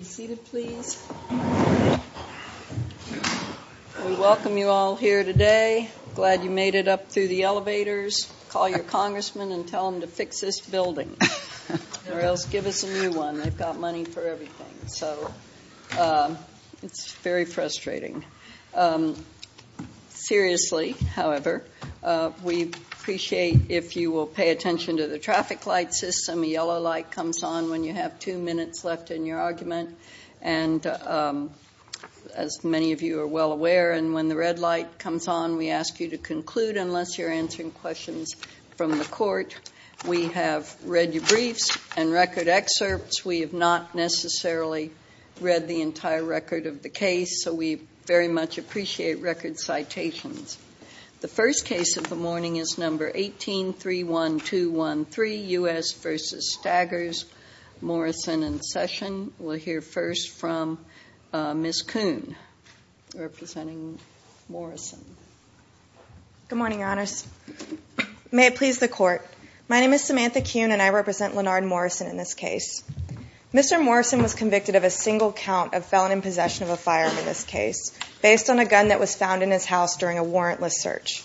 We welcome you all here today. Glad you made it up through the elevators. Call your congressman and tell him to fix this building or else give us a new one. They've got money for everything. So it's very frustrating. Seriously, however, we appreciate if you will pay attention to the traffic light system. A yellow light comes on when you have two minutes left in your argument. And as many of you are well aware, and when the red light comes on, we ask you to conclude unless you're answering questions from the court. We have read your briefs and record excerpts. We have not necessarily read the entire record of the case, so we very much appreciate record citations. The first case of the morning is number 18, 31213, U.S. v. Staggers, Morrison and Session. We'll hear first from Ms. Kuhn, representing Morrison. Good morning, your honors. May it please the court. My name is Samantha Kuhn and I represent Leonard Morrison in this case. Mr. Morrison was convicted of a single count of felon in possession of a firearm in this case, based on a gun that was found in his house during a warrantless search.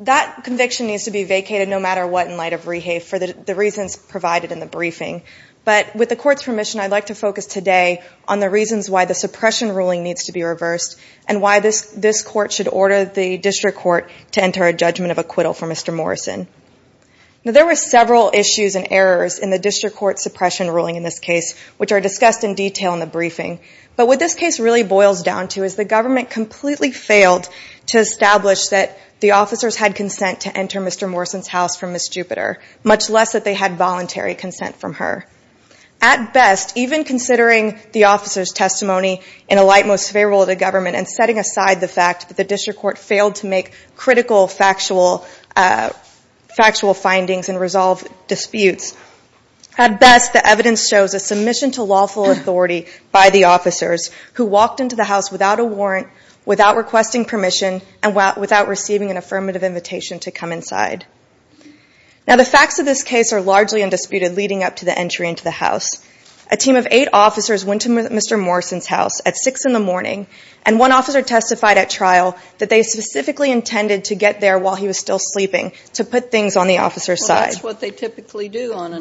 That conviction needs to be vacated no matter what in light of rehafe for the reasons provided in the briefing. But with the court's permission, I'd like to focus today on the reasons why the suppression ruling needs to be reversed and why this court should order the district court to enter a judgment of acquittal for Mr. Morrison. There were several issues and errors in the district court suppression ruling in this case, which are discussed in detail in the briefing. But what this case really boils down to is the government completely failed to establish that the officers had consent to enter Mr. Morrison's house from Ms. Jupiter, much less that they had voluntary consent from her. At best, even considering the officer's testimony in a light most favorable to government and setting aside the fact that the district court failed to make critical factual findings and resolve disputes, at best the evidence shows a submission to lawful authority by the officers who walked into the house without a warrant, without requesting permission, and without receiving an affirmative invitation to come inside. Now the facts of this case are largely undisputed leading up to the entry into the house. A team of eight officers went to Mr. Morrison's house at 6 in the morning, and one officer testified at trial that they specifically intended to get there while he was still sleeping to put things on the officer's side. Well, that's what they typically do on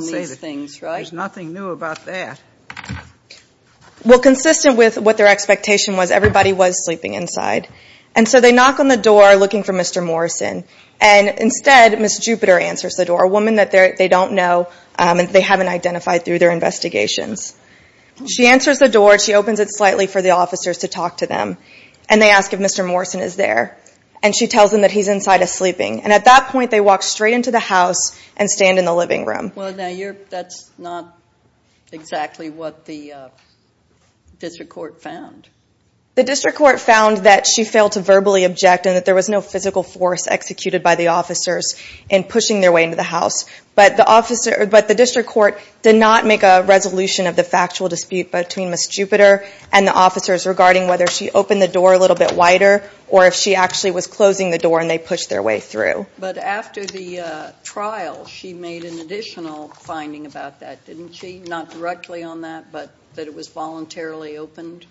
these things, right? There's nothing new about that. Well, consistent with what their expectation was, everybody was sleeping inside. And so they knock on the door looking for Mr. Morrison, and instead Ms. Jupiter answers the door, a woman that they don't know and they haven't identified through their investigations. She answers the door, she opens it slightly for the officers to talk to them, and they ask if Mr. Morrison is there. And she tells them that he's inside sleeping. And at that point, they walk straight into the house and stand in the living room. Well, now that's not exactly what the district court found. The district court found that she failed to verbally object and that there was no physical force executed by the officers in pushing their way into the house. But the district court did not make a resolution of the factual dispute between Ms. Jupiter and the officers regarding whether she opened the door a little bit wider, or if she actually was closing the door and they pushed their way through. But after the trial, she made an additional finding about that, didn't she? Not directly on that, but that it was voluntarily opened?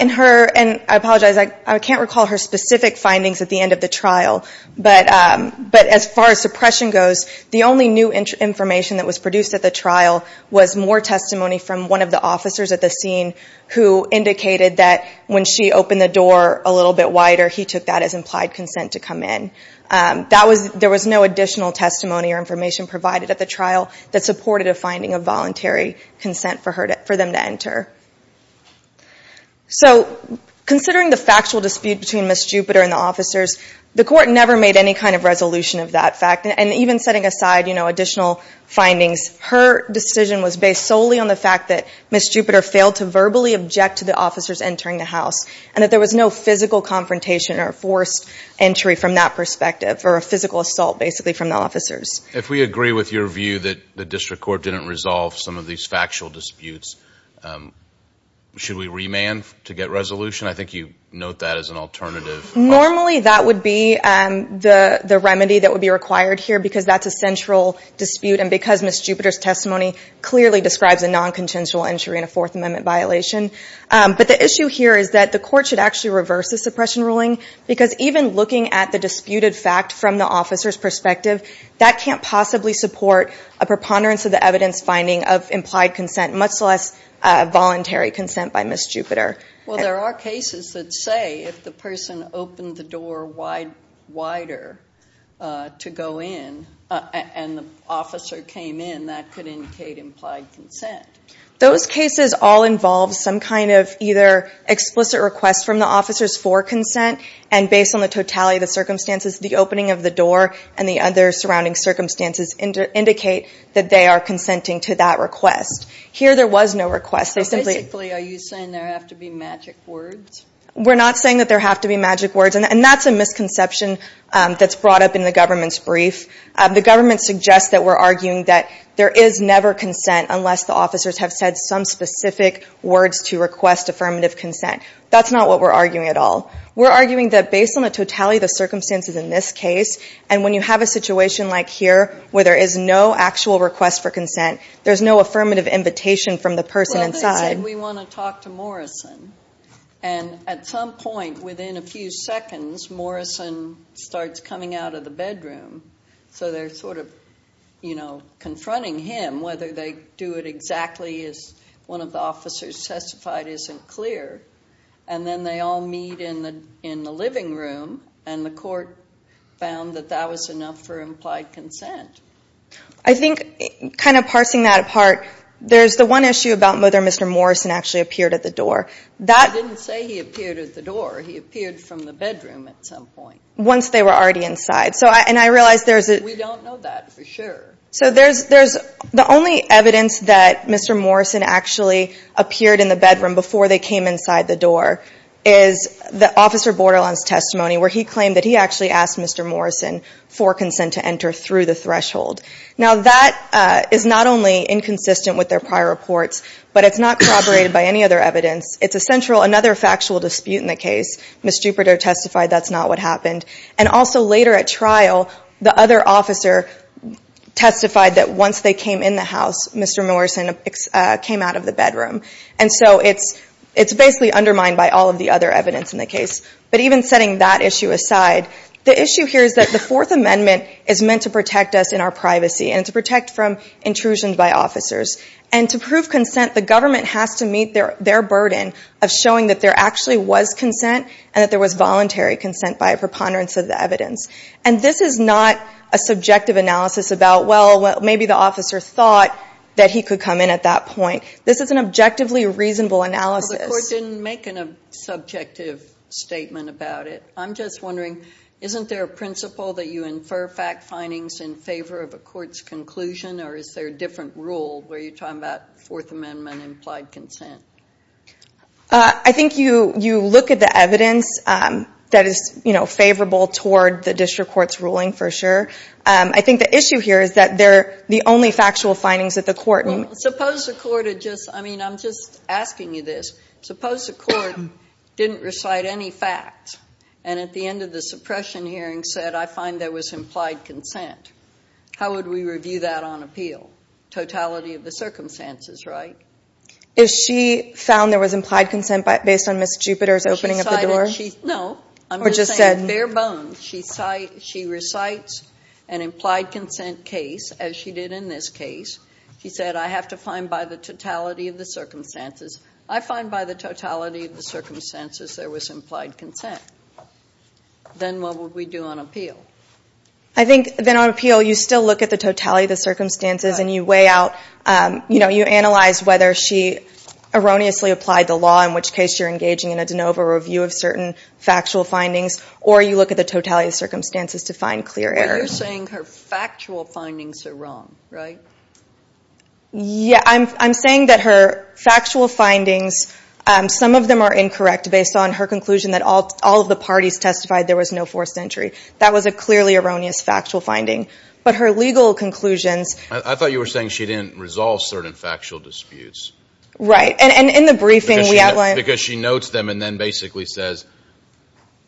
In her, and I apologize, I can't recall her specific findings at the end of the trial. But as far as suppression goes, the only new information that was produced at the trial was more testimony from one of the officers at the scene who indicated that when she opened the door a little bit wider, he took that as implied consent to come in. There was no additional testimony or information provided at the trial that supported a finding of voluntary consent for them to enter. So considering the factual dispute between Ms. Jupiter and the officers, the court never made any kind of resolution of that fact. And even setting aside additional findings, her decision was based solely on the fact that Ms. Jupiter failed to verbally object to the officers entering the house, and that there was no physical confrontation or forced entry from that perspective, or a physical assault, basically, from the officers. If we agree with your view that the district court didn't resolve some of these factual disputes, should we remand to get resolution? I think you note that as an alternative. Normally, that would be the remedy that would be required here, because that's a central dispute, and because Ms. Jupiter's testimony clearly describes a non-consensual entry and a Fourth Amendment violation. But the issue here is that the court should actually reverse the suppression ruling, because even looking at the disputed fact from the officer's perspective, that can't possibly support a preponderance of the evidence finding of implied consent, much less voluntary consent by Ms. Jupiter. Well, there are cases that say if the person opened the door wider to go in, and the officer came in, that could indicate implied consent. Those cases all involve some kind of either explicit request from the officers for consent, and based on the totality of the circumstances, the opening of the door and the other surrounding circumstances indicate that they are consenting to that request. Here, there was no request. So basically, are you saying there have to be magic words? We're not saying that there have to be magic words, and that's a misconception that's brought up in the government's brief. The government suggests that we're arguing that there is never consent unless the officers have said some specific words to request affirmative consent. That's not what we're arguing at all. We're arguing that based on the totality of the circumstances in this case, and when you have a situation like here, where there is no actual request for consent, there's no affirmative invitation from the person inside. Well, let's say we want to talk to Morrison, and at some point within a few seconds, Morrison starts coming out of the bedroom. So they're sort of confronting him, whether they do it exactly as one of the officers testified isn't clear, and then they all meet in the living room, and the court found that that was enough for implied consent. I think, kind of parsing that apart, there's the one issue about whether Mr. Morrison actually appeared at the door. I didn't say he appeared at the door. He appeared from the bedroom at some point. Once they were already inside. We don't know that for sure. The only evidence that Mr. Morrison actually appeared in the bedroom before they came inside the door is the officer borderline's testimony, where he claimed that he actually asked Mr. Morrison for consent to enter through the threshold. Now, that is not only inconsistent with their prior reports, but it's not corroborated by any other evidence. It's another factual dispute in the case. Ms. Jupiter testified that's not what happened. And also, later at trial, the other officer testified that once they came in the house, Mr. Morrison came out of the bedroom. And so it's basically undermined by all of the other evidence in the case. But even setting that issue aside, the issue here is that the Fourth Amendment is meant to protect us in our privacy and to protect from intrusions by officers. And to prove consent, the government has to meet their burden of showing that there actually was consent and that there was voluntary consent by a preponderance of the evidence. And this is not a subjective analysis about, well, maybe the officer thought that he could come in at that point. This is an objectively reasonable analysis. Well, the court didn't make a subjective statement about it. I'm just wondering, isn't there a principle that you infer fact findings in favor of a court's conclusion? Or is there a different rule where you're talking about Fourth Amendment implied consent? I think you look at the evidence that is favorable toward the district court's ruling, for sure. I think the issue here is that they're the only factual findings that the court— Well, suppose the court had just—I mean, I'm just asking you this. Suppose the court didn't recite any facts, and at the end of the suppression hearing said, I find there was implied consent. How would we review that on appeal? Totality of the circumstances, right? Is she found there was implied consent based on Ms. Jupiter's opening of the door? No. Or just said— I'm just saying, bare bones. She recites an implied consent case, as she did in this case. She said, I have to find by the totality of the circumstances. I find by the totality of the circumstances there was implied consent. Then what would we do on appeal? I think then on appeal, you still look at the totality of the circumstances and you weigh out—you analyze whether she erroneously applied the law, in which case you're engaging in a de novo review of certain factual findings, or you look at the totality of the circumstances to find clear errors. But you're saying her factual findings are wrong, right? Yeah. I'm saying that her factual findings, some of them are incorrect based on her conclusion that all of the parties testified there was no forced entry. That was a clearly erroneous factual finding. But her legal conclusions— I thought you were saying she didn't resolve certain factual disputes. Right. And in the briefing, we outlined— Because she notes them and then basically says,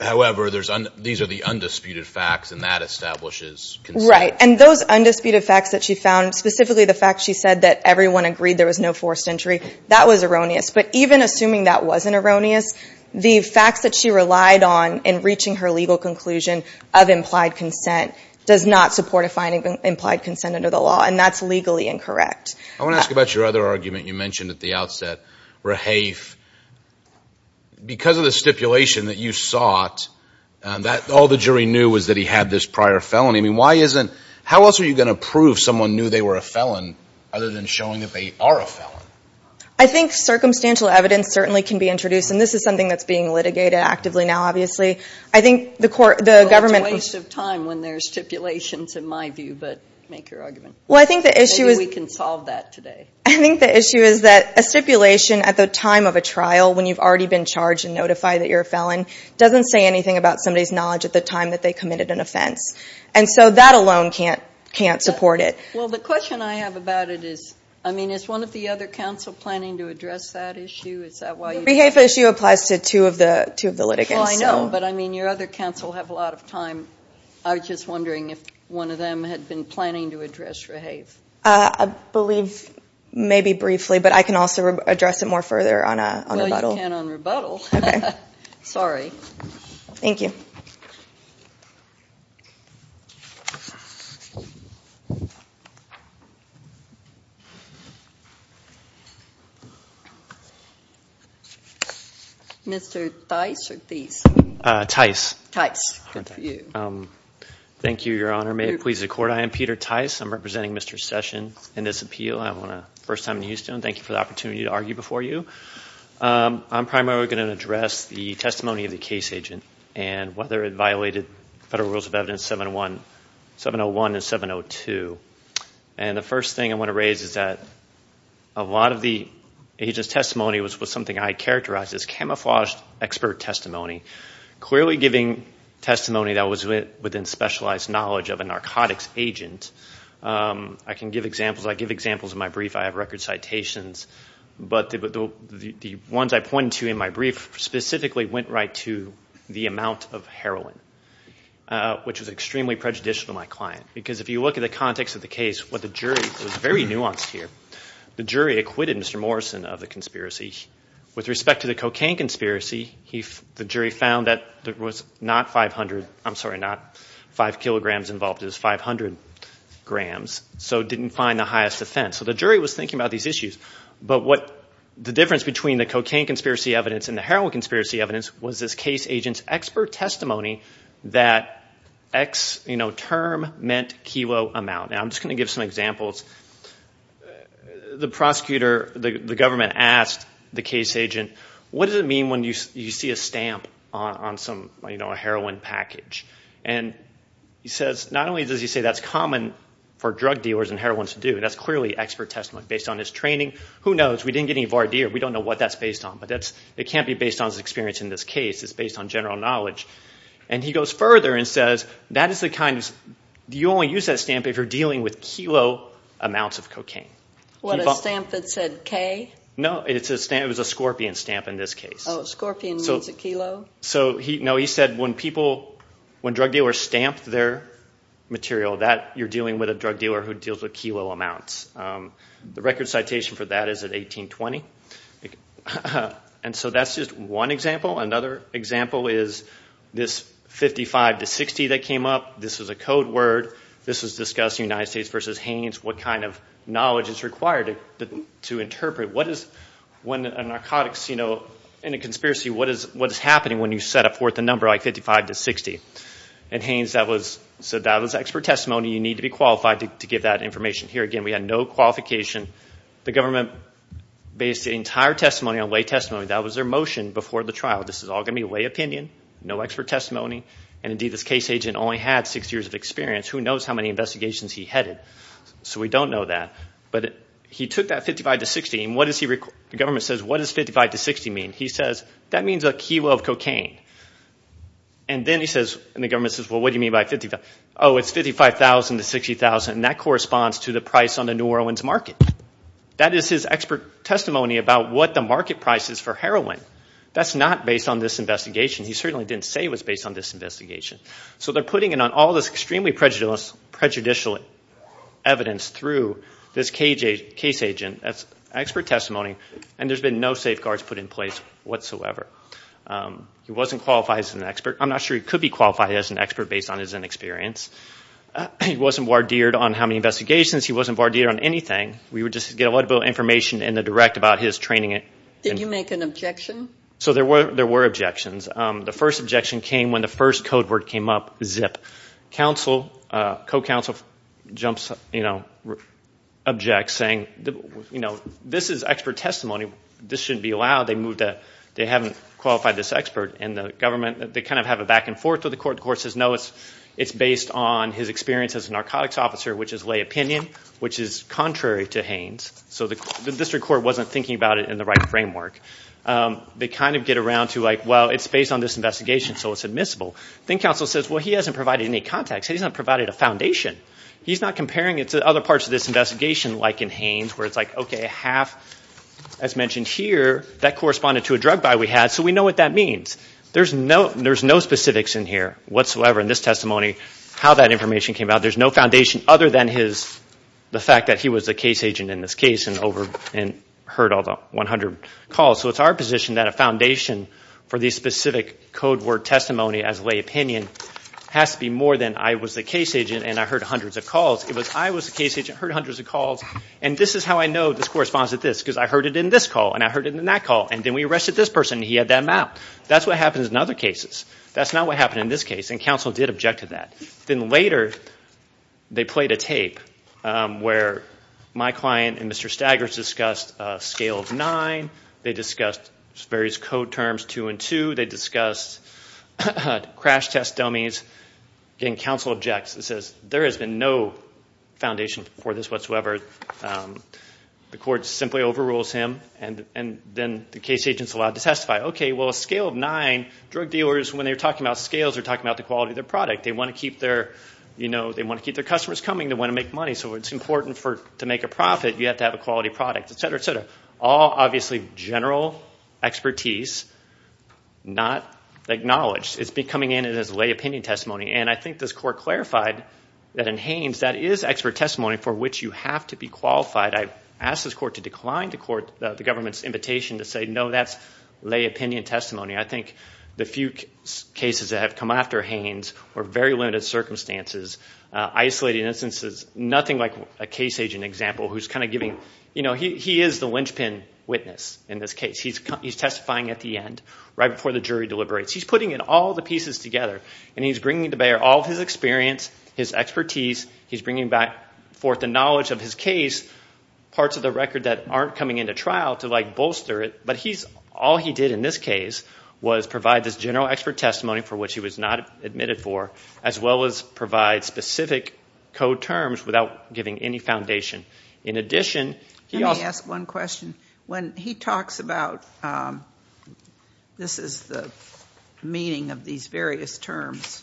however, these are the undisputed facts and that establishes consent. Right. And those undisputed facts that she found, specifically the fact she said that everyone agreed there was no forced entry, that was erroneous. But even assuming that wasn't erroneous, the facts that she relied on in reaching her legal conclusion of implied consent does not support a finding of implied consent under the law. And that's legally incorrect. I want to ask about your other argument you mentioned at the outset, Rahafe. Because of the stipulation that you sought, all the jury knew was that he had this prior felony. I mean, why isn't—how else are you going to prove someone knew they were a felon other than showing that they are a felon? I think circumstantial evidence certainly can be introduced, and this is something that's being litigated actively now, obviously. I think the court— Well, it's a waste of time when there's stipulations, in my view. But make your argument. Well, I think the issue is— Maybe we can solve that today. I think the issue is that a stipulation at the time of a trial, when you've already been charged and notified that you're a felon, doesn't say anything about somebody's knowledge at the time that they committed an offense. And so that alone can't support it. Well, the question I have about it is, I mean, is one of the other counsel planning to address that issue? Is that why you— The Rahafe issue applies to two of the litigants, so— Well, I know, but I mean, your other counsel have a lot of time. I was just wondering if one of them had been planning to address Rahafe. I believe maybe briefly, but I can also address it more further on rebuttal. Well, you can on rebuttal. Okay. Sorry. Thank you. Mr. Theis or Theis? Theis. Theis. Thank you, Your Honor. May it please the Court, I am Peter Theis. I'm representing Mr. Session in this appeal. I'm on a first time in Houston. Thank you for the opportunity to argue before you. charged with a crime. Whether it violated Federal Rules of Evidence 701 and 702. And the first thing I want to raise is that a lot of the agent's testimony was something I characterized as camouflaged expert testimony, clearly giving testimony that was within specialized knowledge of a narcotics agent. I can give examples. I give examples in my brief. I have record citations, but the ones I pointed to in my brief specifically went right to the amount of heroin, which was extremely prejudicial to my client. Because if you look at the context of the case, what the jury, it was very nuanced here, the jury acquitted Mr. Morrison of the conspiracy. With respect to the cocaine conspiracy, the jury found that there was not 500, I'm sorry, not 5 kilograms involved, it was 500 grams. So it didn't find the highest offense. So the jury was thinking about these issues. But what the difference between the cocaine conspiracy evidence and the heroin conspiracy evidence was this case agent's expert testimony that X term meant kilo amount. Now I'm just going to give some examples. The prosecutor, the government, asked the case agent, what does it mean when you see a stamp on some heroin package? And he says, not only does he say that's common for drug dealers and heroinists to do, that's clearly expert testimony based on his training. Who knows? We didn't get any voir dire. We don't know what that's based on. But it can't be based on his experience in this case, it's based on general knowledge. And he goes further and says that is the kind of, you only use that stamp if you're dealing with kilo amounts of cocaine. What, a stamp that said K? No, it was a scorpion stamp in this case. Oh, a scorpion means a kilo? So no, he said when people, when drug dealers stamp their material, that you're dealing with a drug dealer who deals with kilo amounts. The record citation for that is at 1820. And so that's just one example. Another example is this 55 to 60 that came up. This was a code word. This was discussed in the United States versus Hanes. What kind of knowledge is required to interpret? What is, when a narcotics, you know, in a conspiracy, what is happening when you set forth a number like 55 to 60? And Hanes said that was expert testimony, you need to be qualified to give that information. Here again, we had no qualification. The government based the entire testimony on lay testimony. That was their motion before the trial. This is all going to be lay opinion, no expert testimony, and indeed this case agent only had six years of experience. Who knows how many investigations he headed? So we don't know that. But he took that 55 to 60, and what does he, the government says, what does 55 to 60 mean? He says, that means a kilo of cocaine. And then he says, and the government says, well, what do you mean by 55, oh, it's 55,000 to 60,000. And that corresponds to the price on the New Orleans market. That is his expert testimony about what the market price is for heroin. That's not based on this investigation. He certainly didn't say it was based on this investigation. So they're putting it on all this extremely prejudicial evidence through this case agent as expert testimony, and there's been no safeguards put in place whatsoever. He wasn't qualified as an expert. I'm not sure he could be qualified as an expert based on his inexperience. He wasn't wardeered on how many investigations. He wasn't wardeered on anything. We would just get a lot of information in the direct about his training. Did you make an objection? So there were objections. The first objection came when the first code word came up, zip. Co-counsel jumps, objects, saying, this is expert testimony. This shouldn't be allowed. They haven't qualified this expert. And the government, they kind of have a back and forth with the court. The court says, no, it's based on his experience as a narcotics officer, which is lay opinion, which is contrary to Haines. So the district court wasn't thinking about it in the right framework. They kind of get around to, well, it's based on this investigation, so it's admissible. Then counsel says, well, he hasn't provided any context. He hasn't provided a foundation. He's not comparing it to other parts of this investigation, like in Haines, where it's like, OK, half, as mentioned here, that corresponded to a drug buy we had. So we know what that means. There's no specifics in here whatsoever in this testimony how that information came out. There's no foundation other than the fact that he was a case agent in this case and heard all the 100 calls. So it's our position that a foundation for the specific code word testimony as lay opinion has to be more than, I was the case agent and I heard hundreds of calls. It was, I was the case agent, heard hundreds of calls. And this is how I know this corresponds to this, because I heard it in this call, and I heard it in that call. And then we arrested this person, and he had that mouth. That's what happens in other cases. That's not what happened in this case. And counsel did object to that. Then later, they played a tape where my client and Mr. Staggers discussed a scale of nine. They discussed various code terms, two and two. They discussed crash test dummies. Again, counsel objects. It says, there has been no foundation for this whatsoever. The court simply overrules him. And then the case agent's allowed to testify. Well, a scale of nine, drug dealers, when they're talking about scales, they're talking about the quality of their product. They want to keep their customers coming. They want to make money. So it's important to make a profit. You have to have a quality product, et cetera, et cetera. All, obviously, general expertise not acknowledged. It's coming in as a lay opinion testimony. And I think this court clarified that in Haines, that is expert testimony for which you have to be qualified. I asked this court to decline the government's invitation to say, no, that's lay opinion testimony. I think the few cases that have come after Haines were very limited circumstances, isolated instances, nothing like a case agent example who's kind of giving, you know, he is the linchpin witness in this case. He's testifying at the end, right before the jury deliberates. He's putting in all the pieces together. And he's bringing to bear all his experience, his expertise. He's bringing back forth the knowledge of his case, parts of the record that aren't coming into trial to like bolster it. But all he did in this case was provide this general expert testimony for which he was not admitted for, as well as provide specific code terms without giving any foundation. In addition, he also asked one question. When he talks about this is the meaning of these various terms,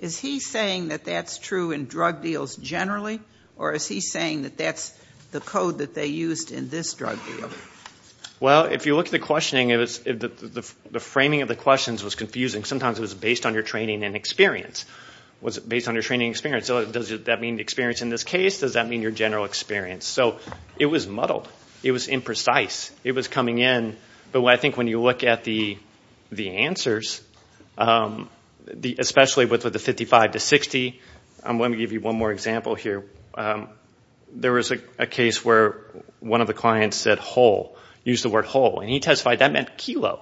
is he saying that that's true in drug deals generally? Or is he saying that that's the code that they used in this drug deal? Well, if you look at the questioning, the framing of the questions was confusing. Sometimes it was based on your training and experience. Was it based on your training and experience? Does that mean experience in this case? Does that mean your general experience? So it was muddled. It was imprecise. It was coming in. But I think when you look at the answers, especially with the 55 to 60, I'm going to give you one more example here. There was a case where one of the clients said whole, used the word whole. And he testified that meant kilo.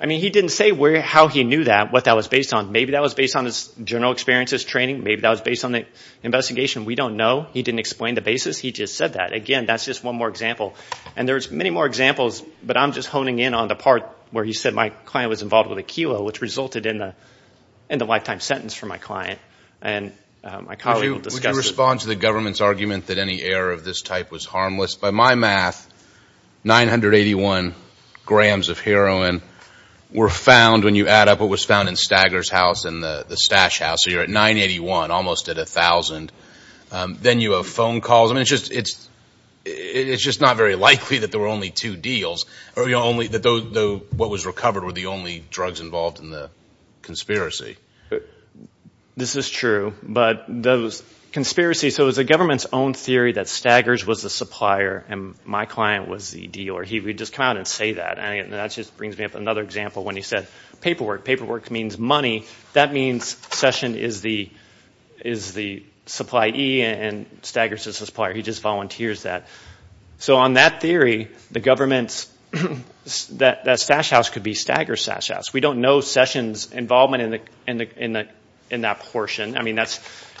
I mean, he didn't say how he knew that, what that was based on. Maybe that was based on his general experience as training. Maybe that was based on the investigation. We don't know. He didn't explain the basis. He just said that. Again, that's just one more example. And there's many more examples, but I'm just honing in on the part where he said my client was involved with a kilo, which resulted in the lifetime sentence for my client. And my colleague will discuss this. Respond to the government's argument that any error of this type was harmless. By my math, 981 grams of heroin were found when you add up what was found in Stagger's house and the Stash house. So you're at 981, almost at 1,000. Then you have phone calls. I mean, it's just not very likely that there were only two deals, or that what was recovered were the only drugs involved in the conspiracy. This is true. But those conspiracies, so it was the government's own theory that Staggers was the supplier and my client was the dealer. He would just come out and say that. And that just brings me up another example when he said paperwork. Paperwork means money. That means Session is the supplye and Staggers is the supplier. He just volunteers that. So on that theory, that Stash house could be Stagger's Stash house. We don't know Session's involvement in that portion.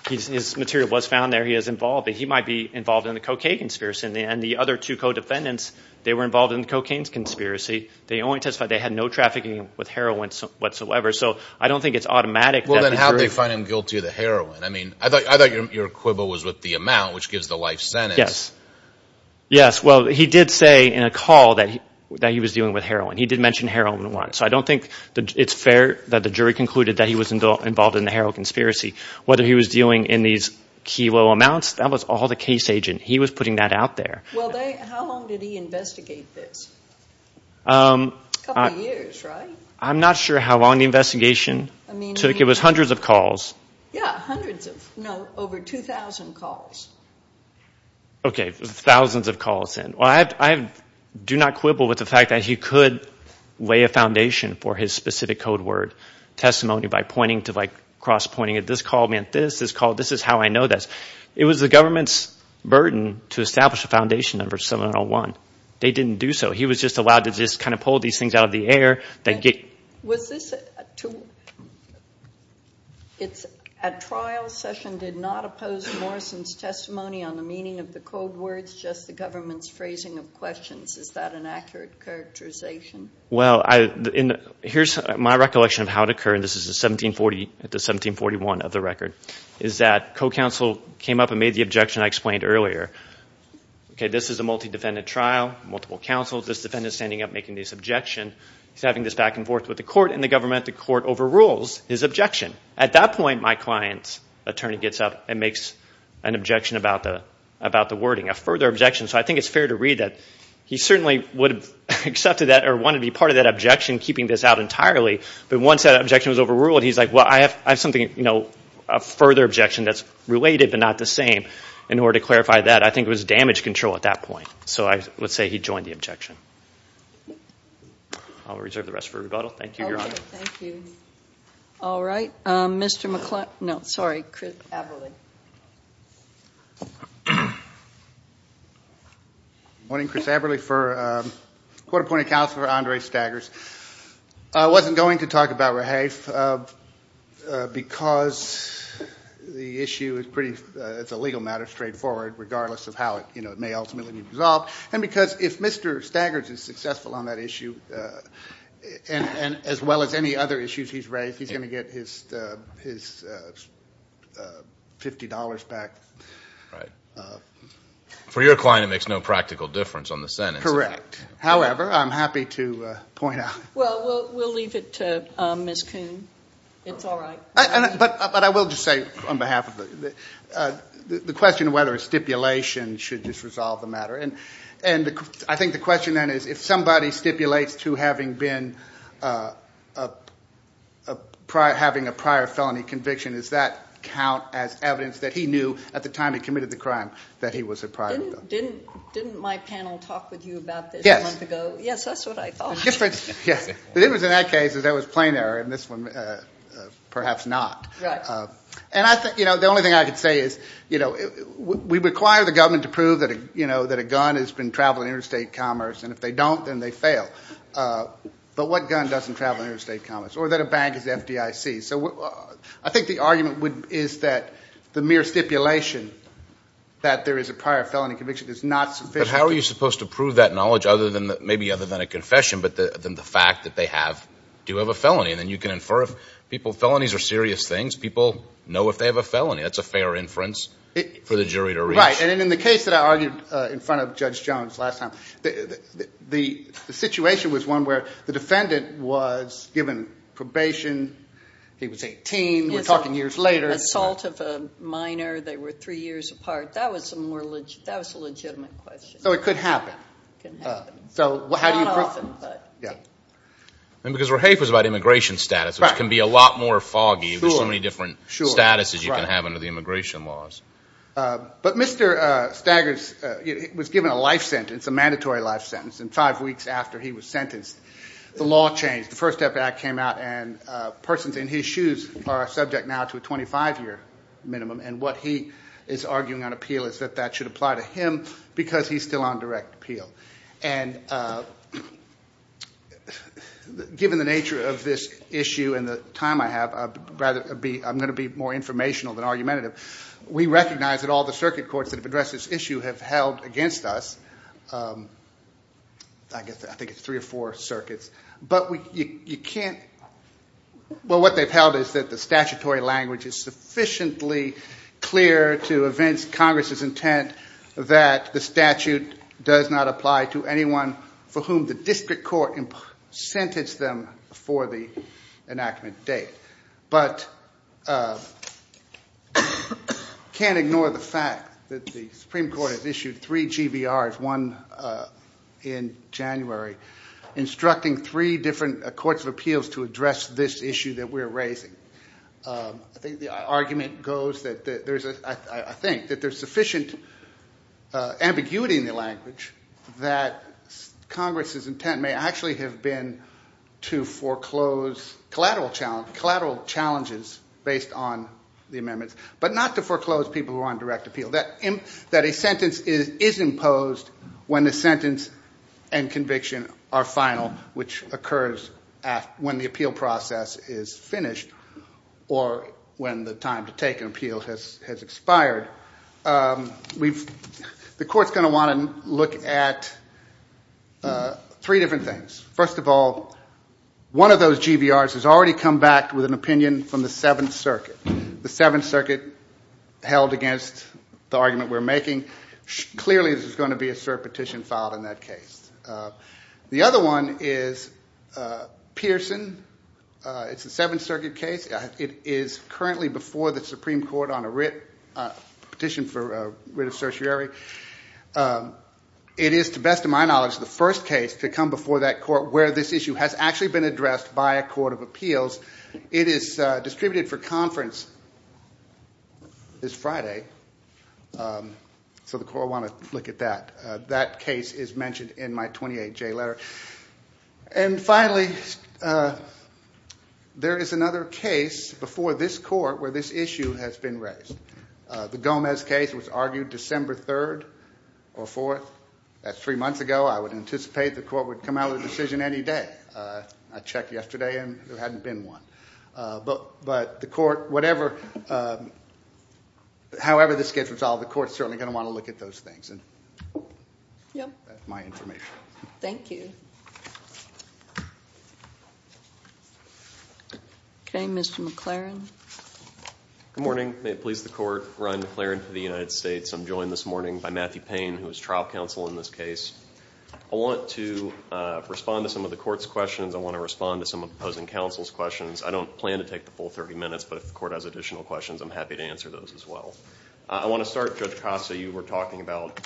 His material was found there. He is involved. But he might be involved in the cocaine conspiracy. And the other two co-defendants, they were involved in the cocaine conspiracy. They only testified they had no trafficking with heroin whatsoever. So I don't think it's automatic. Well, then how did they find him guilty of the heroin? I thought your quibble was with the amount, which gives the life sentence. Yes. Yes, well, he did say in a call that he was dealing with heroin. He did mention heroin once. So I don't think it's fair that the jury concluded that he was involved in the heroin conspiracy. Whether he was dealing in these kilo amounts, that was all the case agent. He was putting that out there. Well, how long did he investigate this? A couple of years, right? I'm not sure how long the investigation took. It was hundreds of calls. Yeah, hundreds of, no, over 2,000 calls. OK, thousands of calls then. Well, I do not quibble with the fact that he could lay a foundation for his specific code word, testimony, by pointing to, like, cross-pointing it. This call meant this. This call, this is how I know this. It was the government's burden to establish a foundation number 7-1-0-1. They didn't do so. He was just allowed to just kind of pull these things out of the air, then get. Was this a trial session did not oppose Morrison's testimony on the meaning of the code words, just the government's phrasing of questions? Is that an accurate characterization? Well, here's my recollection of how it occurred. This is the 1740 to 1741 of the record, is that co-counsel came up and made the objection I explained earlier. OK, this is a multi-defendant trial, multiple counsels. This defendant's standing up making this objection. He's having this back and forth with the court and the government. The court overrules his objection. At that point, my client's attorney gets up and makes an objection about the wording, a further objection. So I think it's fair to read that he certainly would have accepted that or wanted to be part of that objection, keeping this out entirely. But once that objection was overruled, he's like, well, I have something, a further objection that's related, but not the same. In order to clarify that, I think it was damage control at that point. So I would say he joined the objection. I'll reserve the rest for rebuttal. Thank you, Your Honor. Thank you. All right, Mr. McClellan. No, sorry, Chris Aberle. Go ahead. Morning, Chris Aberle for Court Appointed Counselor Andre Staggers. I wasn't going to talk about rehafe because the issue is a legal matter, straightforward, regardless of how it may ultimately be resolved. And because if Mr. Staggers is successful on that issue, as well as any other issues he's raised, I don't think he's going to get his $50 back. For your client, it makes no practical difference on the sentence. Correct. However, I'm happy to point out. Well, we'll leave it to Ms. Coon. It's all right. But I will just say on behalf of the question of whether a stipulation should just resolve the matter. And I think the question then is if somebody stipulates to having a prior felony conviction, does that count as evidence that he knew at the time he committed the crime that he was a prior felon? Didn't my panel talk with you about this a month ago? Yes, that's what I thought. The difference in that case is there was plain error in this one, perhaps not. And I think the only thing I could say is we require the government to prove that a gun has been traveling interstate commerce. And if they don't, then they fail. But what gun doesn't travel interstate commerce? Or that a bank is FDIC? So I think the argument is that the mere stipulation that there is a prior felony conviction is not sufficient. But how are you supposed to prove that knowledge, maybe other than a confession, but then the fact that they have, do have a felony? And then you can infer if people, felonies are serious things. People know if they have a felony. That's a fair inference for the jury to reach. Right. And in the case that I argued in front of Judge Jones last time, the situation was one where the defendant was given probation. He was 18. We're talking years later. Assault of a minor. They were three years apart. That was a legitimate question. So it could happen. So how do you prove it? Not often, but. Yeah. And because Rahafe was about immigration status, which can be a lot more foggy. There's so many different statuses you can have under the immigration laws. But Mr. Staggers was given a life sentence, a mandatory life sentence. And five weeks after he was sentenced, the law changed. The First Step Act came out, and persons in his shoes are subject now to a 25-year minimum. And what he is arguing on appeal is that that should apply to him because he's still on direct appeal. And given the nature of this issue and the time I have, I'm going to be more informational than argumentative. We recognize that all the circuit courts that have addressed this issue have held against us. I think it's three or four circuits. But what they've held is that the statutory language is sufficiently clear to evince Congress's intent that the statute does not apply to anyone for whom the district court sentenced them for the enactment date. But can't ignore the fact that the Supreme Court has issued three GBRs, one in January, instructing three different courts of appeals to address this issue that we're raising. I think the argument goes that there's sufficient ambiguity in the language that Congress's intent may actually have been to foreclose collateral challenges based on the amendments, but not to foreclose people who are on direct appeal. That a sentence is imposed when the sentence and conviction are final, which occurs when the appeal process is finished or when the time to take an appeal has expired. The court's going to want to look at three different things. First of all, one of those GBRs has already come back with an opinion from the Seventh Circuit. The Seventh Circuit held against the argument we're making. Clearly, there's going to be a cert petition filed in that case. The other one is Pearson. It's a Seventh Circuit case. It is currently before the Supreme Court on a petition for writ of certiorari. It is, to best of my knowledge, the first case to come before that court where this issue has actually been addressed by a court of appeals. It is distributed for conference this Friday. So the court will want to look at that. That case is mentioned in my 28J letter. And finally, there is another case before this court where this issue has been raised. The Gomez case was argued December 3rd or 4th. That's three months ago. I would anticipate the court would come out of the decision any day. I checked yesterday, and there hadn't been one. But the court, whatever, however this gets resolved, the court's certainly going to want to look at those things. And that's my information. Thank you. OK, Mr. McLaren. Good morning. May it please the court, Ryan McLaren for the United States. I'm joined this morning by Matthew Payne, who is trial counsel in this case. I want to respond to some of the court's questions. I want to respond to some of the opposing counsel's questions. I don't plan to take the full 30 minutes, but if the court has additional questions, I'm happy to answer those as well. I want to start, Judge Costa, you were talking about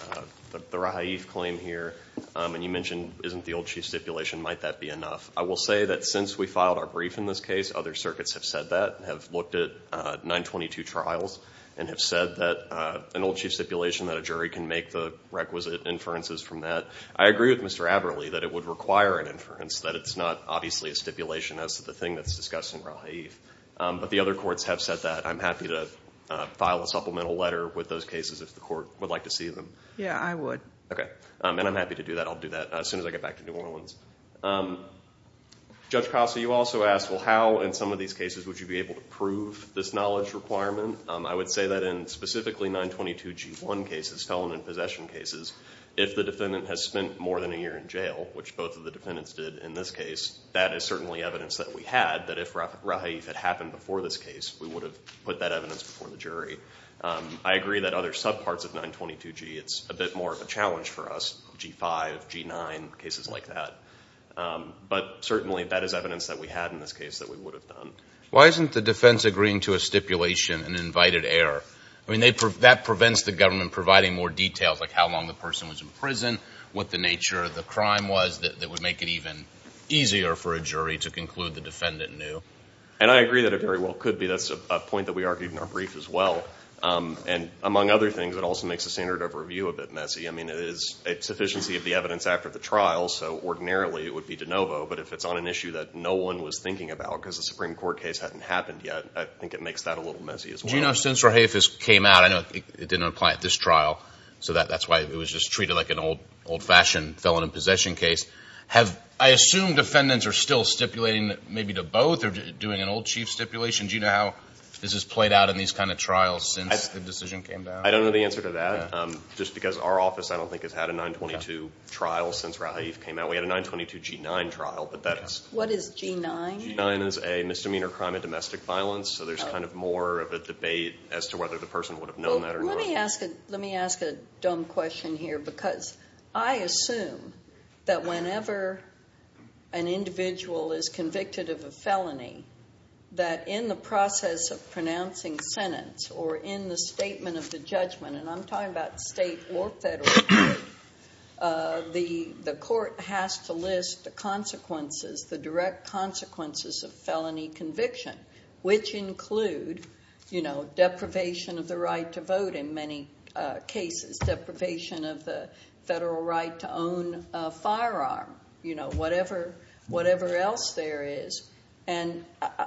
the Rahaif claim here. And you mentioned, isn't the old chief stipulation, might that be enough? I will say that since we filed our brief in this case, other circuits have said that, have looked at 922 trials, and have said that an old chief stipulation, that a jury can make the requisite inferences from that. I agree with Mr. Aberle that it would require an inference, that it's not obviously a stipulation as to the thing that's discussed in Rahaif. But the other courts have said that. I'm happy to file a supplemental letter with those cases if the court would like to see them. Yeah, I would. OK. And I'm happy to do that. I'll do that as soon as I get back to New Orleans. Judge Costa, you also asked, well, how in some of these cases would you be able to prove this knowledge requirement? I would say that in specifically 922g1 cases, felon and possession cases, if the defendant has spent more than a year in jail, which both of the defendants did in this case, that is certainly evidence that we had, that if Rahaif had happened before this case, we would have put that evidence before the jury. I agree that other subparts of 922g, it's a bit more of a challenge for us, g5, g9, cases like that. But certainly, that is evidence that we had in this case that we would have done. Why isn't the defense agreeing to a stipulation and invited error? I mean, that prevents the government providing more details, like how long the person was in prison, what the nature of the crime was, that would make it even easier for a jury to conclude the defendant knew. And I agree that it very well could be. That's a point that we argued in our brief as well. And among other things, it also makes the standard of review a bit messy. I mean, it is a sufficiency of the evidence after the trial. So ordinarily, it would be de novo. But if it's on an issue that no one was thinking about because the Supreme Court case hadn't happened yet, I think it makes that a little messy as well. Since Rahaif came out, I know it didn't apply at this trial. So that's why it was just treated like an old-fashioned felon in possession case. I assume defendants are still stipulating maybe to both or doing an old chief stipulation. Do you know how this has played out in these kind of trials since the decision came down? I don't know the answer to that. Just because our office, I don't think, has had a 922 trial since Rahaif came out. We had a 922 G9 trial. But that is a misdemeanor crime of domestic violence. So there's kind of more of a debate as to whether the person would have known that or not. Let me ask a dumb question here. Because I assume that whenever an individual is convicted of a felony, that in the process of pronouncing sentence or in the statement of the judgment, and I'm talking about state or federal, the court has to list the direct consequences of felony conviction, which include deprivation of the right to vote in many cases, deprivation of the federal right to own a firearm, whatever else there is. And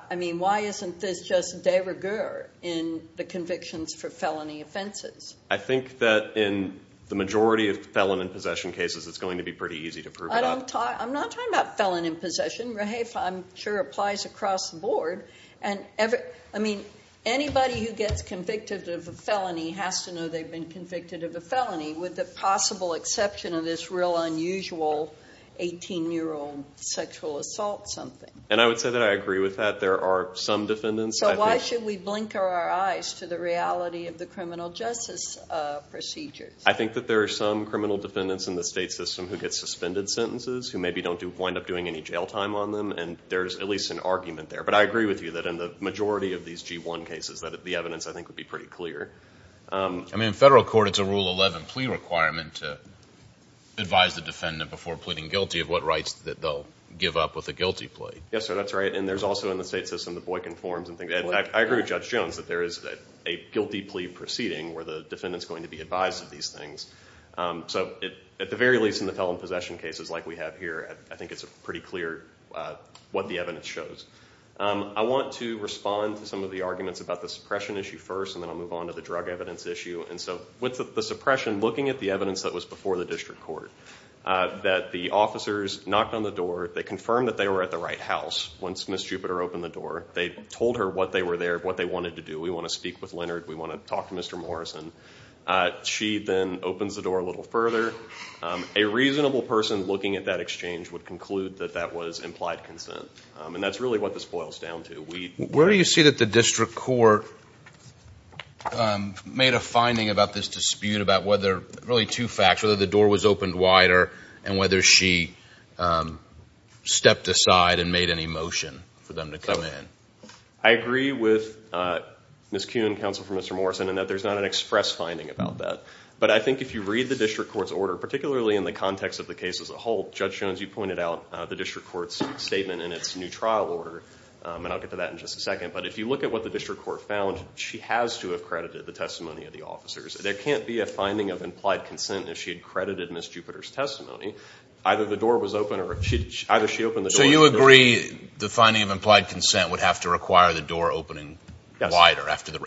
I mean, why isn't this just de rigueur in the convictions for felony offenses? I think that in the majority of felon in possession cases, it's going to be pretty easy to prove it up. I'm not talking about felon in possession. Rahaif, I'm sure, applies across the board. And I mean, anybody who gets convicted of a felony has to know they've been convicted of a felony, with the possible exception of this real unusual 18-year-old sexual assault something. And I would say that I agree with that. There are some defendants. So why should we blink our eyes to the reality of the criminal justice procedures? I think that there are some criminal defendants in the state system who get suspended sentences, who maybe don't wind up doing any jail time on them. And there's at least an argument there. But I agree with you that in the majority of these G1 cases, that the evidence, I think, would be pretty clear. I mean, in federal court, it's a Rule 11 plea requirement to advise the defendant before pleading guilty of what rights that they'll give up with a guilty plea. Yes, sir, that's right. And there's also, in the state system, the Boykin forms and things. And I agree with Judge Jones that there is a guilty plea proceeding where the defendant's going to be advised of these things. So at the very least, in the felon possession cases like we have here, I think it's pretty clear what the evidence shows. I want to respond to some of the arguments about the suppression issue first. And then I'll move on to the drug evidence issue. And so with the suppression, looking at the evidence that was before the district court, that the officers knocked on the door. They confirmed that they were at the right house once Ms. Jupiter opened the door. They told her what they were there, what they wanted to do. We want to speak with Leonard. We want to talk to Mr. Morrison. She then opens the door a little further. A reasonable person looking at that exchange would conclude that that was implied consent. And that's really what this boils down to. Where do you see that the district court made a finding about this dispute about whether, really, two facts, whether the door was opened wider and whether she stepped aside and made any motion for them to come in? I agree with Ms. Kuhn, counsel for Mr. Morrison, in that there's not an express finding about that. But I think if you read the district court's order, particularly in the context of the case as a whole, Judge Jones, you pointed out the district court's statement in its new trial order. And I'll get to that in just a second. But if you look at what the district court found, she has to have credited the testimony of the officers. There can't be a finding of implied consent if she had credited Ms. Jupiter's testimony. Either the door was open, or either she opened the door. So you agree the finding of implied consent would have to require the door opening wider after the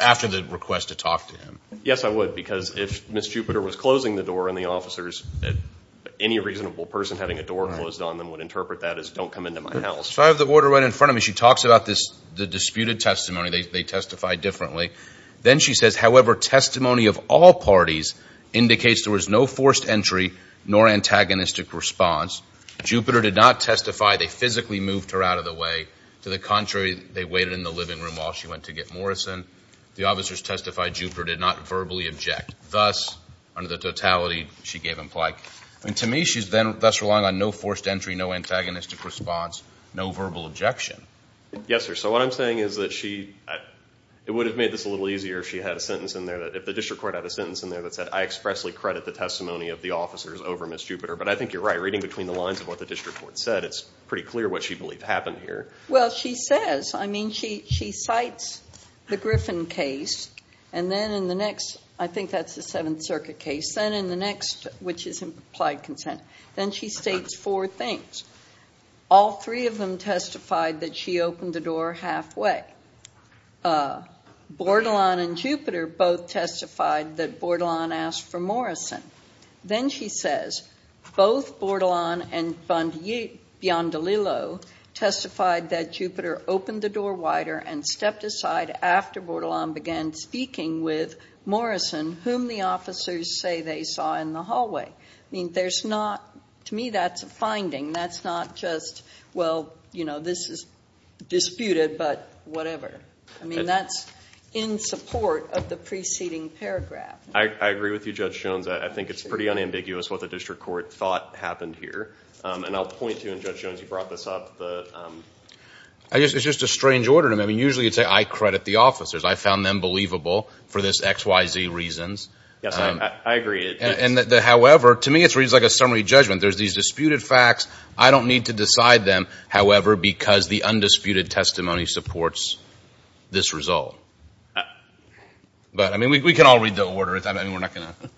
request to talk to him? Yes, I would. Because if Ms. Jupiter was closing the door and the officers, any reasonable person having a door closed on them would interpret that as, don't come into my house. So I have the order right in front of me. She talks about the disputed testimony. They testify differently. Then she says, however, testimony of all parties indicates there was no forced entry nor antagonistic response. Jupiter did not testify. They physically moved her out of the way. To the contrary, they waited in the living room while she went to get Morrison. The officers testified Jupiter did not verbally object. Thus, under the totality, she gave implied consent. And to me, she's then thus relying on no forced entry, no antagonistic response, no verbal objection. Yes, sir. So what I'm saying is that it would have made this a little easier if she had a sentence in there, if the district court had a sentence in there that said, I expressly credit the testimony of the officers over Ms. Jupiter. But I think you're right. Reading between the lines of what the district court said, it's pretty clear what she believed happened here. Well, she says. I mean, she cites the Griffin case. And then in the next, I think that's the Seventh Circuit case, then in the next, which is implied consent, then she states four things. All three of them testified that she opened the door halfway. That Bordelon and Jupiter both testified that Bordelon asked for Morrison. Then she says, both Bordelon and Bondolillo testified that Jupiter opened the door wider and stepped aside after Bordelon began speaking with Morrison, whom the officers say they saw in the hallway. I mean, to me, that's a finding. That's not just, well, this is disputed, but whatever. I mean, that's in support of the preceding paragraph. I agree with you, Judge Jones. I think it's pretty unambiguous what the district court thought happened here. And I'll point to, and Judge Jones, you brought this up, the, um. I guess it's just a strange order. I mean, usually you'd say, I credit the officers. I found them believable for this XYZ reasons. Yes, I agree. However, to me, it's like a summary judgment. There's these disputed facts. I don't need to decide them, however, because the undisputed testimony supports this result. But I mean, we can all read the order. I mean, we're not going to.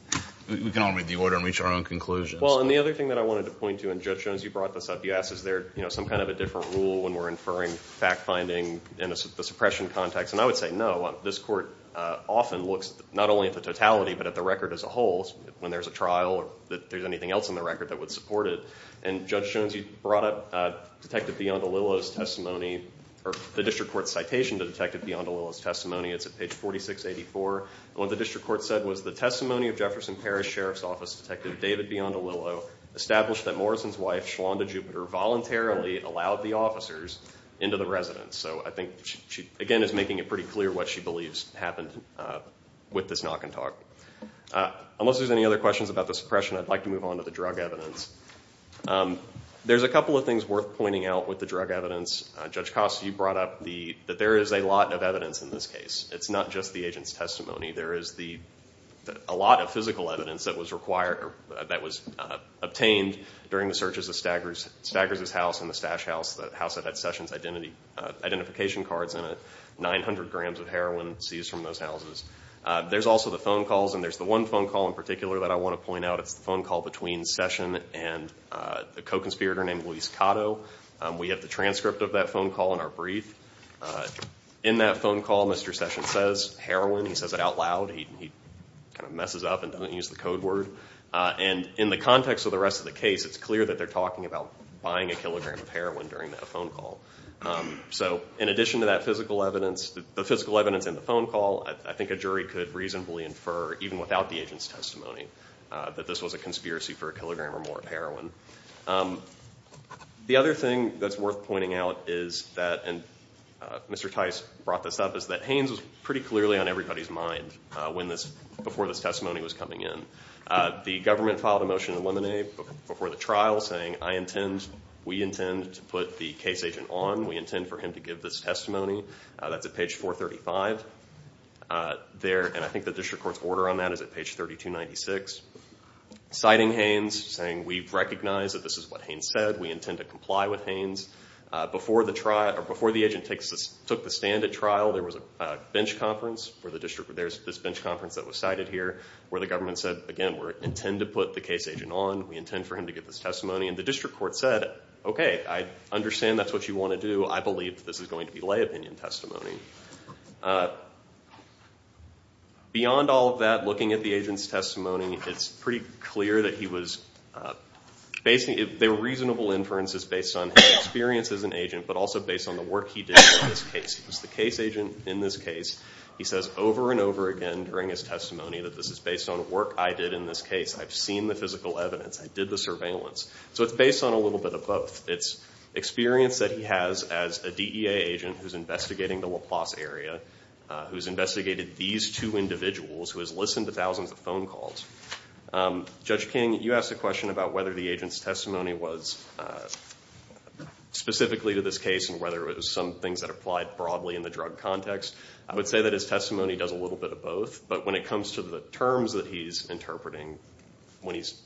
We can all read the order and reach our own conclusions. Well, and the other thing that I wanted to point to, and Judge Jones, you brought this up. You asked, is there some kind of a different rule when we're inferring fact-finding in the suppression context? And I would say, no. This court often looks not only at the totality, but at the record as a whole. When there's a trial or that there's anything else in the record that would support it. And Judge Jones, you brought up Detective Biondolillo's testimony, or the district court's citation to Detective Biondolillo's testimony. It's at page 4684. And what the district court said was, the testimony of Jefferson Parish Sheriff's Office Detective David Biondolillo established that Morrison's wife, Shalanda Jupiter, voluntarily allowed the officers into the residence. So I think she, again, is making it pretty clear what she believes happened with this knock and talk. Unless there's any other questions about the suppression, I'd like to move on to the drug evidence. There's a couple of things worth pointing out with the drug evidence. Judge Costa, you brought up that there is a lot of evidence in this case. It's not just the agent's testimony. There is a lot of physical evidence that was obtained during the searches of Staggers' house and the Stash House, the house that had Sessions' identification cards in it, 900 grams of heroin seized from those houses. There's also the phone calls. And there's the one phone call in particular that I want to point out. That's the phone call between Session and a co-conspirator named Luis Cotto. We have the transcript of that phone call in our brief. In that phone call, Mr. Session says heroin. He says it out loud. He kind of messes up and doesn't use the code word. And in the context of the rest of the case, it's clear that they're talking about buying a kilogram of heroin during that phone call. So in addition to that physical evidence, the physical evidence in the phone call, I think a jury could reasonably infer, even without the agent's testimony, that this was a conspiracy for a kilogram or more of heroin. The other thing that's worth pointing out is that, and Mr. Tice brought this up, is that Haines was pretty clearly on everybody's mind before this testimony was coming in. The government filed a motion to eliminate before the trial saying, I intend, we intend to put the case agent on. We intend for him to give this testimony. That's at page 435 there. And I think the district court's order on that is at page 3296. Citing Haines, saying we recognize that this is what Haines said. We intend to comply with Haines. Before the agent took the stand at trial, there was a bench conference for the district. There's this bench conference that was cited here where the government said, again, we intend to put the case agent on. We intend for him to give this testimony. And the district court said, OK, I understand that's what you want to do. I believe this is going to be lay opinion testimony. Beyond all of that, looking at the agent's testimony, it's pretty clear that he was basically, they were reasonable inferences based on his experience as an agent, but also based on the work he did in this case. He was the case agent in this case. He says over and over again during his testimony that this is based on work I did in this case. I've seen the physical evidence. I did the surveillance. So it's based on a little bit of both. It's experience that he has as a DEA agent who's investigating the LaPlace area, who's two individuals who has listened to thousands of phone calls. Judge King, you asked a question about whether the agent's testimony was specifically to this case and whether it was some things that applied broadly in the drug context. I would say that his testimony does a little bit of both. But when it comes to the terms that he's interpreting, when he's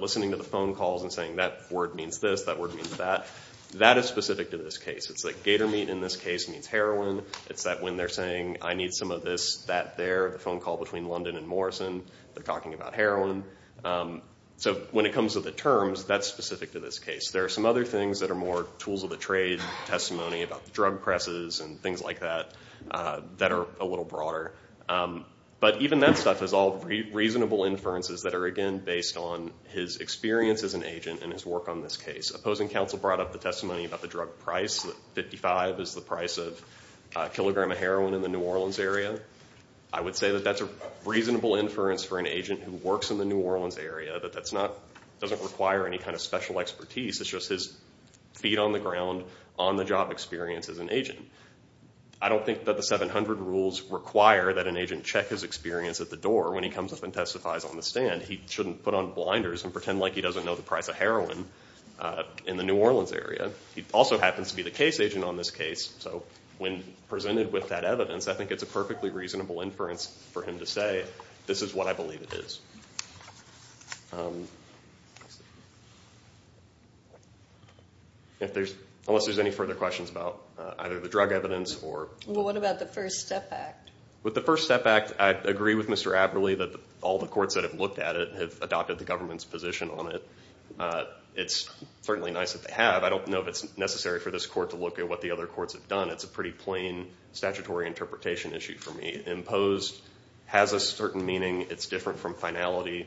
listening to the phone calls and saying that word means this, that word means that, that is specific to this case. It's like gator meat in this case means heroin. It's that when they're saying, I need some of this, that there, the phone call between London and Morrison, they're talking about heroin. So when it comes to the terms, that's specific to this case. There are some other things that are more tools of the trade, testimony about the drug presses and things like that, that are a little broader. But even that stuff is all reasonable inferences that are, again, based on his experience as an agent and his work on this case. Opposing counsel brought up the testimony about the drug price. 55 is the price of a kilogram of heroin in the New Orleans area. I would say that that's a reasonable inference for an agent who works in the New Orleans area, that that doesn't require any kind of special expertise. It's just his feet on the ground, on the job experience as an agent. I don't think that the 700 rules require that an agent check his experience at the door. When he comes up and testifies on the stand, he shouldn't put on blinders and pretend like he doesn't know the price of heroin in the New Orleans area. He also happens to be the case agent on this case. So when presented with that evidence, I think it's a perfectly reasonable inference for him to say, this is what I believe it is. Unless there's any further questions about either the drug evidence or? Well, what about the First Step Act? With the First Step Act, I agree with Mr. Aberle that all the courts that have looked at it have adopted the government's position on it. It's certainly nice that they have. I don't know if it's necessary for this court to look at what the other courts have done. It's a pretty plain statutory interpretation issue for me. Imposed has a certain meaning. It's different from finality.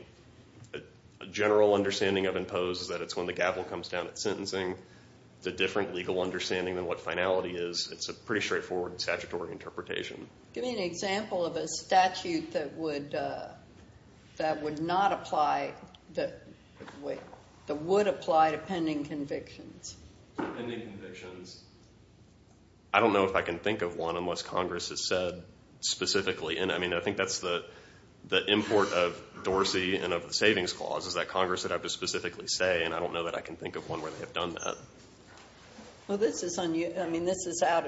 A general understanding of imposed is that it's when the gavel comes down at sentencing. It's a different legal understanding than what finality is. It's a pretty straightforward statutory interpretation. Give me an example of a statute that would not apply, that would apply to pending convictions. Pending convictions. I don't know if I can think of one unless Congress has said specifically. And I think that's the import of Dorsey and of the Savings Clause, is that Congress would have to specifically say, and I don't know that I can think of one where they have done that. Well, this is out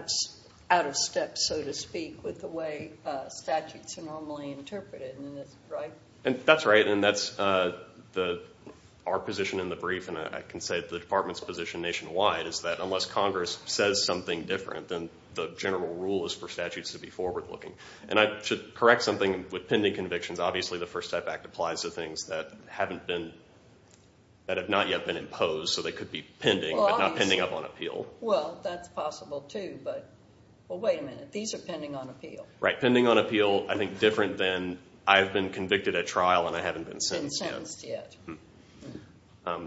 of step, so to speak, with the way statutes are normally interpreted. That's right. And that's our position in the brief. And I can say the department's position nationwide is that unless Congress says something different, then the general rule is for statutes to be forward looking. And I should correct something with pending convictions. Obviously, the First Step Act applies to things that have not yet been imposed. So they could be pending, but not pending up on appeal. Well, that's possible too, but wait a minute. These are pending on appeal. Right, pending on appeal. I think different than I've been convicted at trial and I haven't been sentenced yet.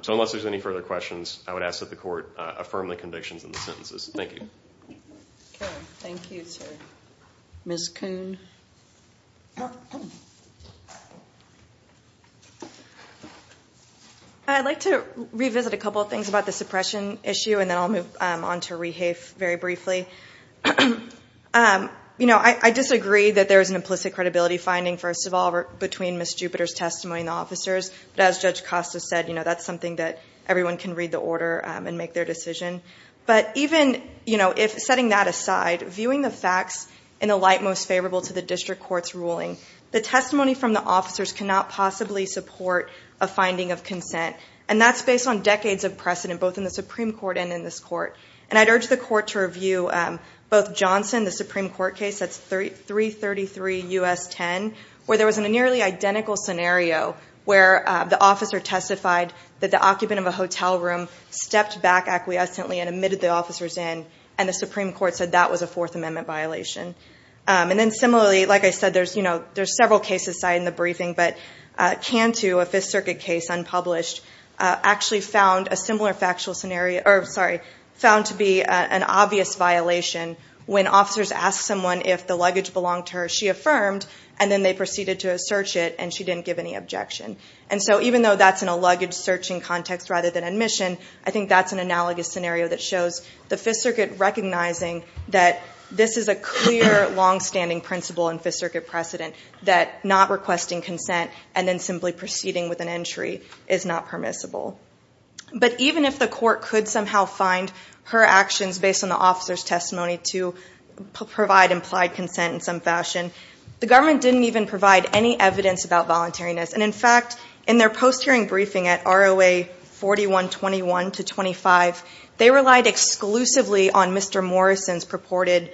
So unless there's any further questions, I would ask that the court affirm the convictions and the sentences. Thank you. Thank you, sir. Ms. Kuhn. I'd like to revisit a couple of things about the suppression issue, and then I'll move on to rehafe very briefly. I disagree that there is an implicit credibility finding, first of all, between Ms. Jupiter's testimony and the officers. But as Judge Costa said, that's something that everyone can read the order and make their decision. But even if setting that aside, viewing the facts in the light most favorable to the district court's ruling, the testimony from the officers cannot possibly support a finding of consent. And that's based on decades of precedent, both in the Supreme Court and in this court. And I'd urge the court to review both Johnson, the Supreme Court case, that's 333 U.S. 10, where there was a nearly identical scenario where the officer testified that the occupant of a hotel room stepped back acquiescently and admitted the officers in, and the Supreme Court said that was a Fourth Amendment violation. And then similarly, like I said, there's several cases cited in the briefing, but Cantu, a Fifth Circuit case unpublished, actually found a similar factual scenario, or sorry, found to be an obvious violation. When officers asked someone if the luggage belonged to her, she affirmed, and then they proceeded to search it, and she didn't give any objection. And so even though that's in a luggage searching context rather than admission, I think that's an analogous scenario that shows the Fifth Circuit recognizing that this is a clear, longstanding principle in Fifth Circuit precedent, that not requesting consent and then simply proceeding with an entry is not permissible. But even if the court could somehow find her actions based on the officer's testimony to provide implied consent in some fashion, the government didn't even provide any evidence about voluntariness. And in fact, in their post-hearing briefing at ROA 4121 to 25, they relied exclusively on Mr. Morrison's purported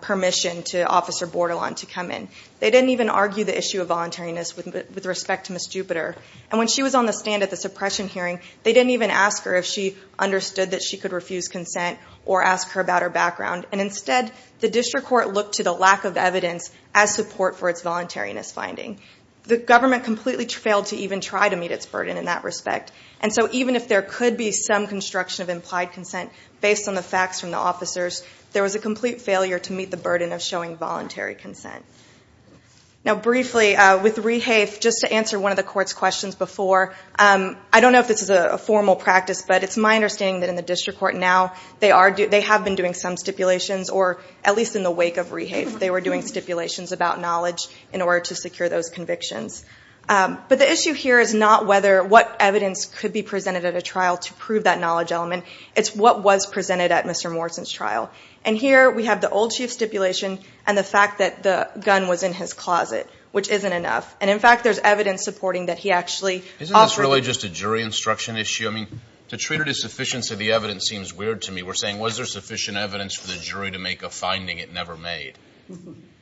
permission to Officer Bordelon to come in. They didn't even argue the issue of voluntariness with respect to Ms. Jupiter, and when she was on the stand at the suppression hearing, they didn't even ask her if she understood that she could refuse consent or ask her about her background. And instead, the district court looked to the lack of evidence as support for its voluntariness finding. The government completely failed to even try to meet its burden in that respect. And so even if there could be some construction of implied consent based on the facts from the officers, there was a complete failure to meet the burden of showing voluntary consent. Now briefly, with rehafe, just to answer one of the court's questions before, I don't know if this is a formal practice, but it's my understanding that in the district court now, they have been doing some stipulations, or at least in the wake of rehafe, they were doing stipulations about knowledge in order to secure those convictions. But the issue here is not whether what evidence could be presented at a trial to prove that knowledge element. It's what was presented at Mr. Morrison's trial. And here, we have the old chief stipulation and the fact that the gun was in his closet, which isn't enough. And in fact, there's evidence supporting that he actually offered it. Isn't this really just a jury instruction issue? I mean, to treat it as sufficiency of the evidence seems weird to me. We're saying, was there sufficient evidence for the jury to make a finding it never made?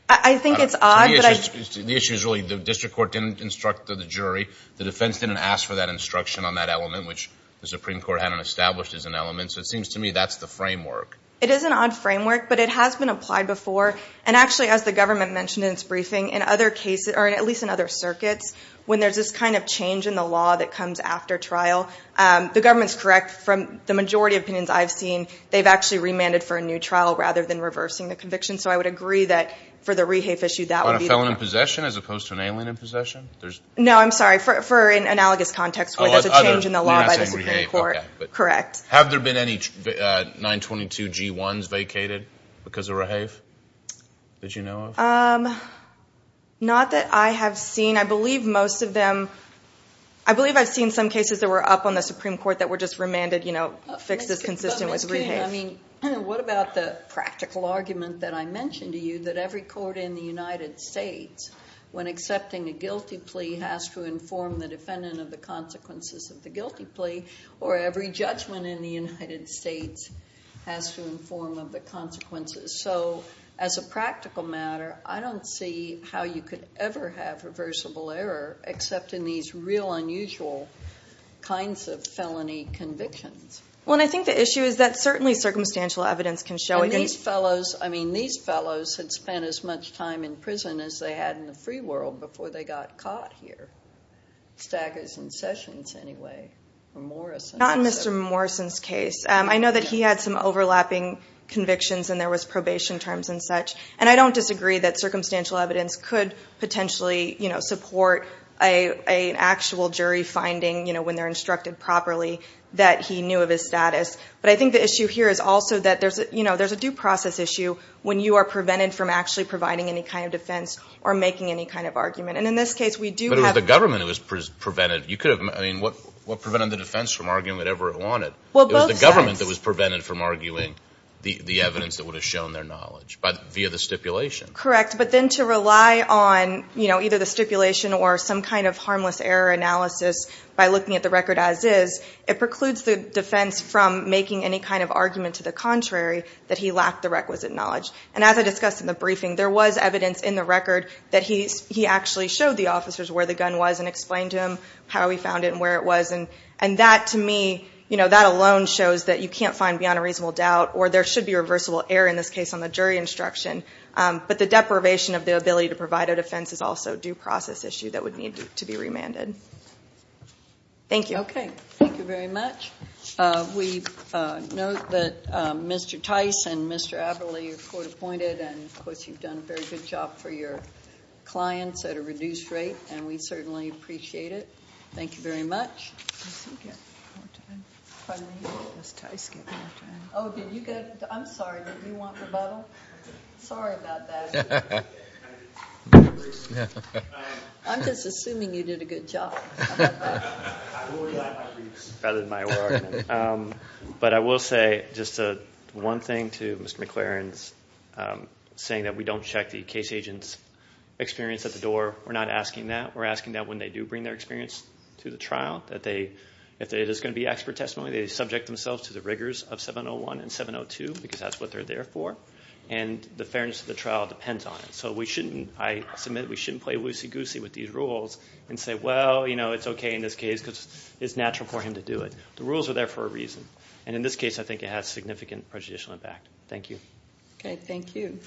I think it's odd, but I think it's true. The issue is really, the district court didn't instruct the jury. The defense didn't ask for that instruction on that element, which the Supreme Court hadn't established as an element. So it seems to me that's the framework. It is an odd framework, but it has been applied before. And actually, as the government mentioned in its briefing, in other cases, or at least in other circuits, when there's this kind of change in the law that comes after trial, the government's correct from the majority of opinions I've seen, they've actually remanded for a new trial rather than reversing the conviction. So I would agree that for the rehafe issue, that would be the problem. On a felon in possession, as opposed to an alien in possession? No, I'm sorry. For an analogous context, where there's a change in the law by the Supreme Court. Correct. Have there been any 922 G1s vacated because of rehafe that you know of? Not that I have seen. I believe most of them, I believe I've seen some cases that were up on the Supreme Court that were just remanded fixes consistent with rehafe. Ms. King, what about the practical argument that I mentioned to you, that every court in the United States, when accepting a guilty plea, has to inform the defendant of the consequences of the guilty plea, or every judgment in the United States has to inform of the consequences? So as a practical matter, I don't see how you could ever have reversible error, except in these real unusual kinds of felony convictions. Well, and I think the issue is that certainly circumstantial evidence can show it. And these fellows, I mean, these fellows had spent as much time in prison as they had in the free world before they got caught here. Staggers and Sessions, anyway, or Morrison. Not in Mr. Morrison's case. I know that he had some overlapping convictions, and there was probation terms and such. And I don't disagree that circumstantial evidence could potentially support an actual jury finding, when they're instructed properly, that he knew of his status. But I think the issue here is also that there's a due process issue when you are prevented from actually providing any kind of defense or making any kind of argument. And in this case, we do have a government that was prevented. You could have, I mean, what prevented the defense from arguing whatever it wanted? Well, both sides. It was the government that was prevented from arguing the evidence that would have shown their knowledge via the stipulation. Correct. But then to rely on either the stipulation or some kind of harmless error analysis by looking at the record as is, it precludes the defense from making any kind of argument to the contrary that he lacked the requisite knowledge. And as I discussed in the briefing, there was evidence in the record that he actually showed the officers where the gun was and explained to him how he found it and where it was. And that, to me, that alone shows that you can't find beyond a reasonable doubt, or there should be reversible error in this case on the jury instruction. But the deprivation of the ability to provide a defense is also a due process issue that would need to be remanded. Thank you. OK. Thank you very much. We note that Mr. Tice and Mr. Aberle are court-appointed. And of course, you've done a very good job for your clients at a reduced rate. And we certainly appreciate it. Thank you very much. Does he get more time? Pardon me? Does Tice get more time? Oh, did you get? I'm sorry. Did you want the bottle? Sorry about that. I'm just assuming you did a good job. I'm not that good. I'm worried about my briefs. Rather than my work. But I will say just one thing to Mr. McLaren's saying that we don't check the case agent's experience at the door. We're not asking that. We're asking that when they do bring their experience to the trial, that if it is going to be expert testimony, they subject themselves to the rigors of 701 and 702, because that's what they're there for. And the fairness of the trial depends on it. So we shouldn't. I submit we shouldn't play loosey-goosey with these rules and say, well, you know, it's OK in this case because it's natural for him to do it. The rules are there for a reason. And in this case, I think it has significant prejudicial impact. Thank you. OK, thank you.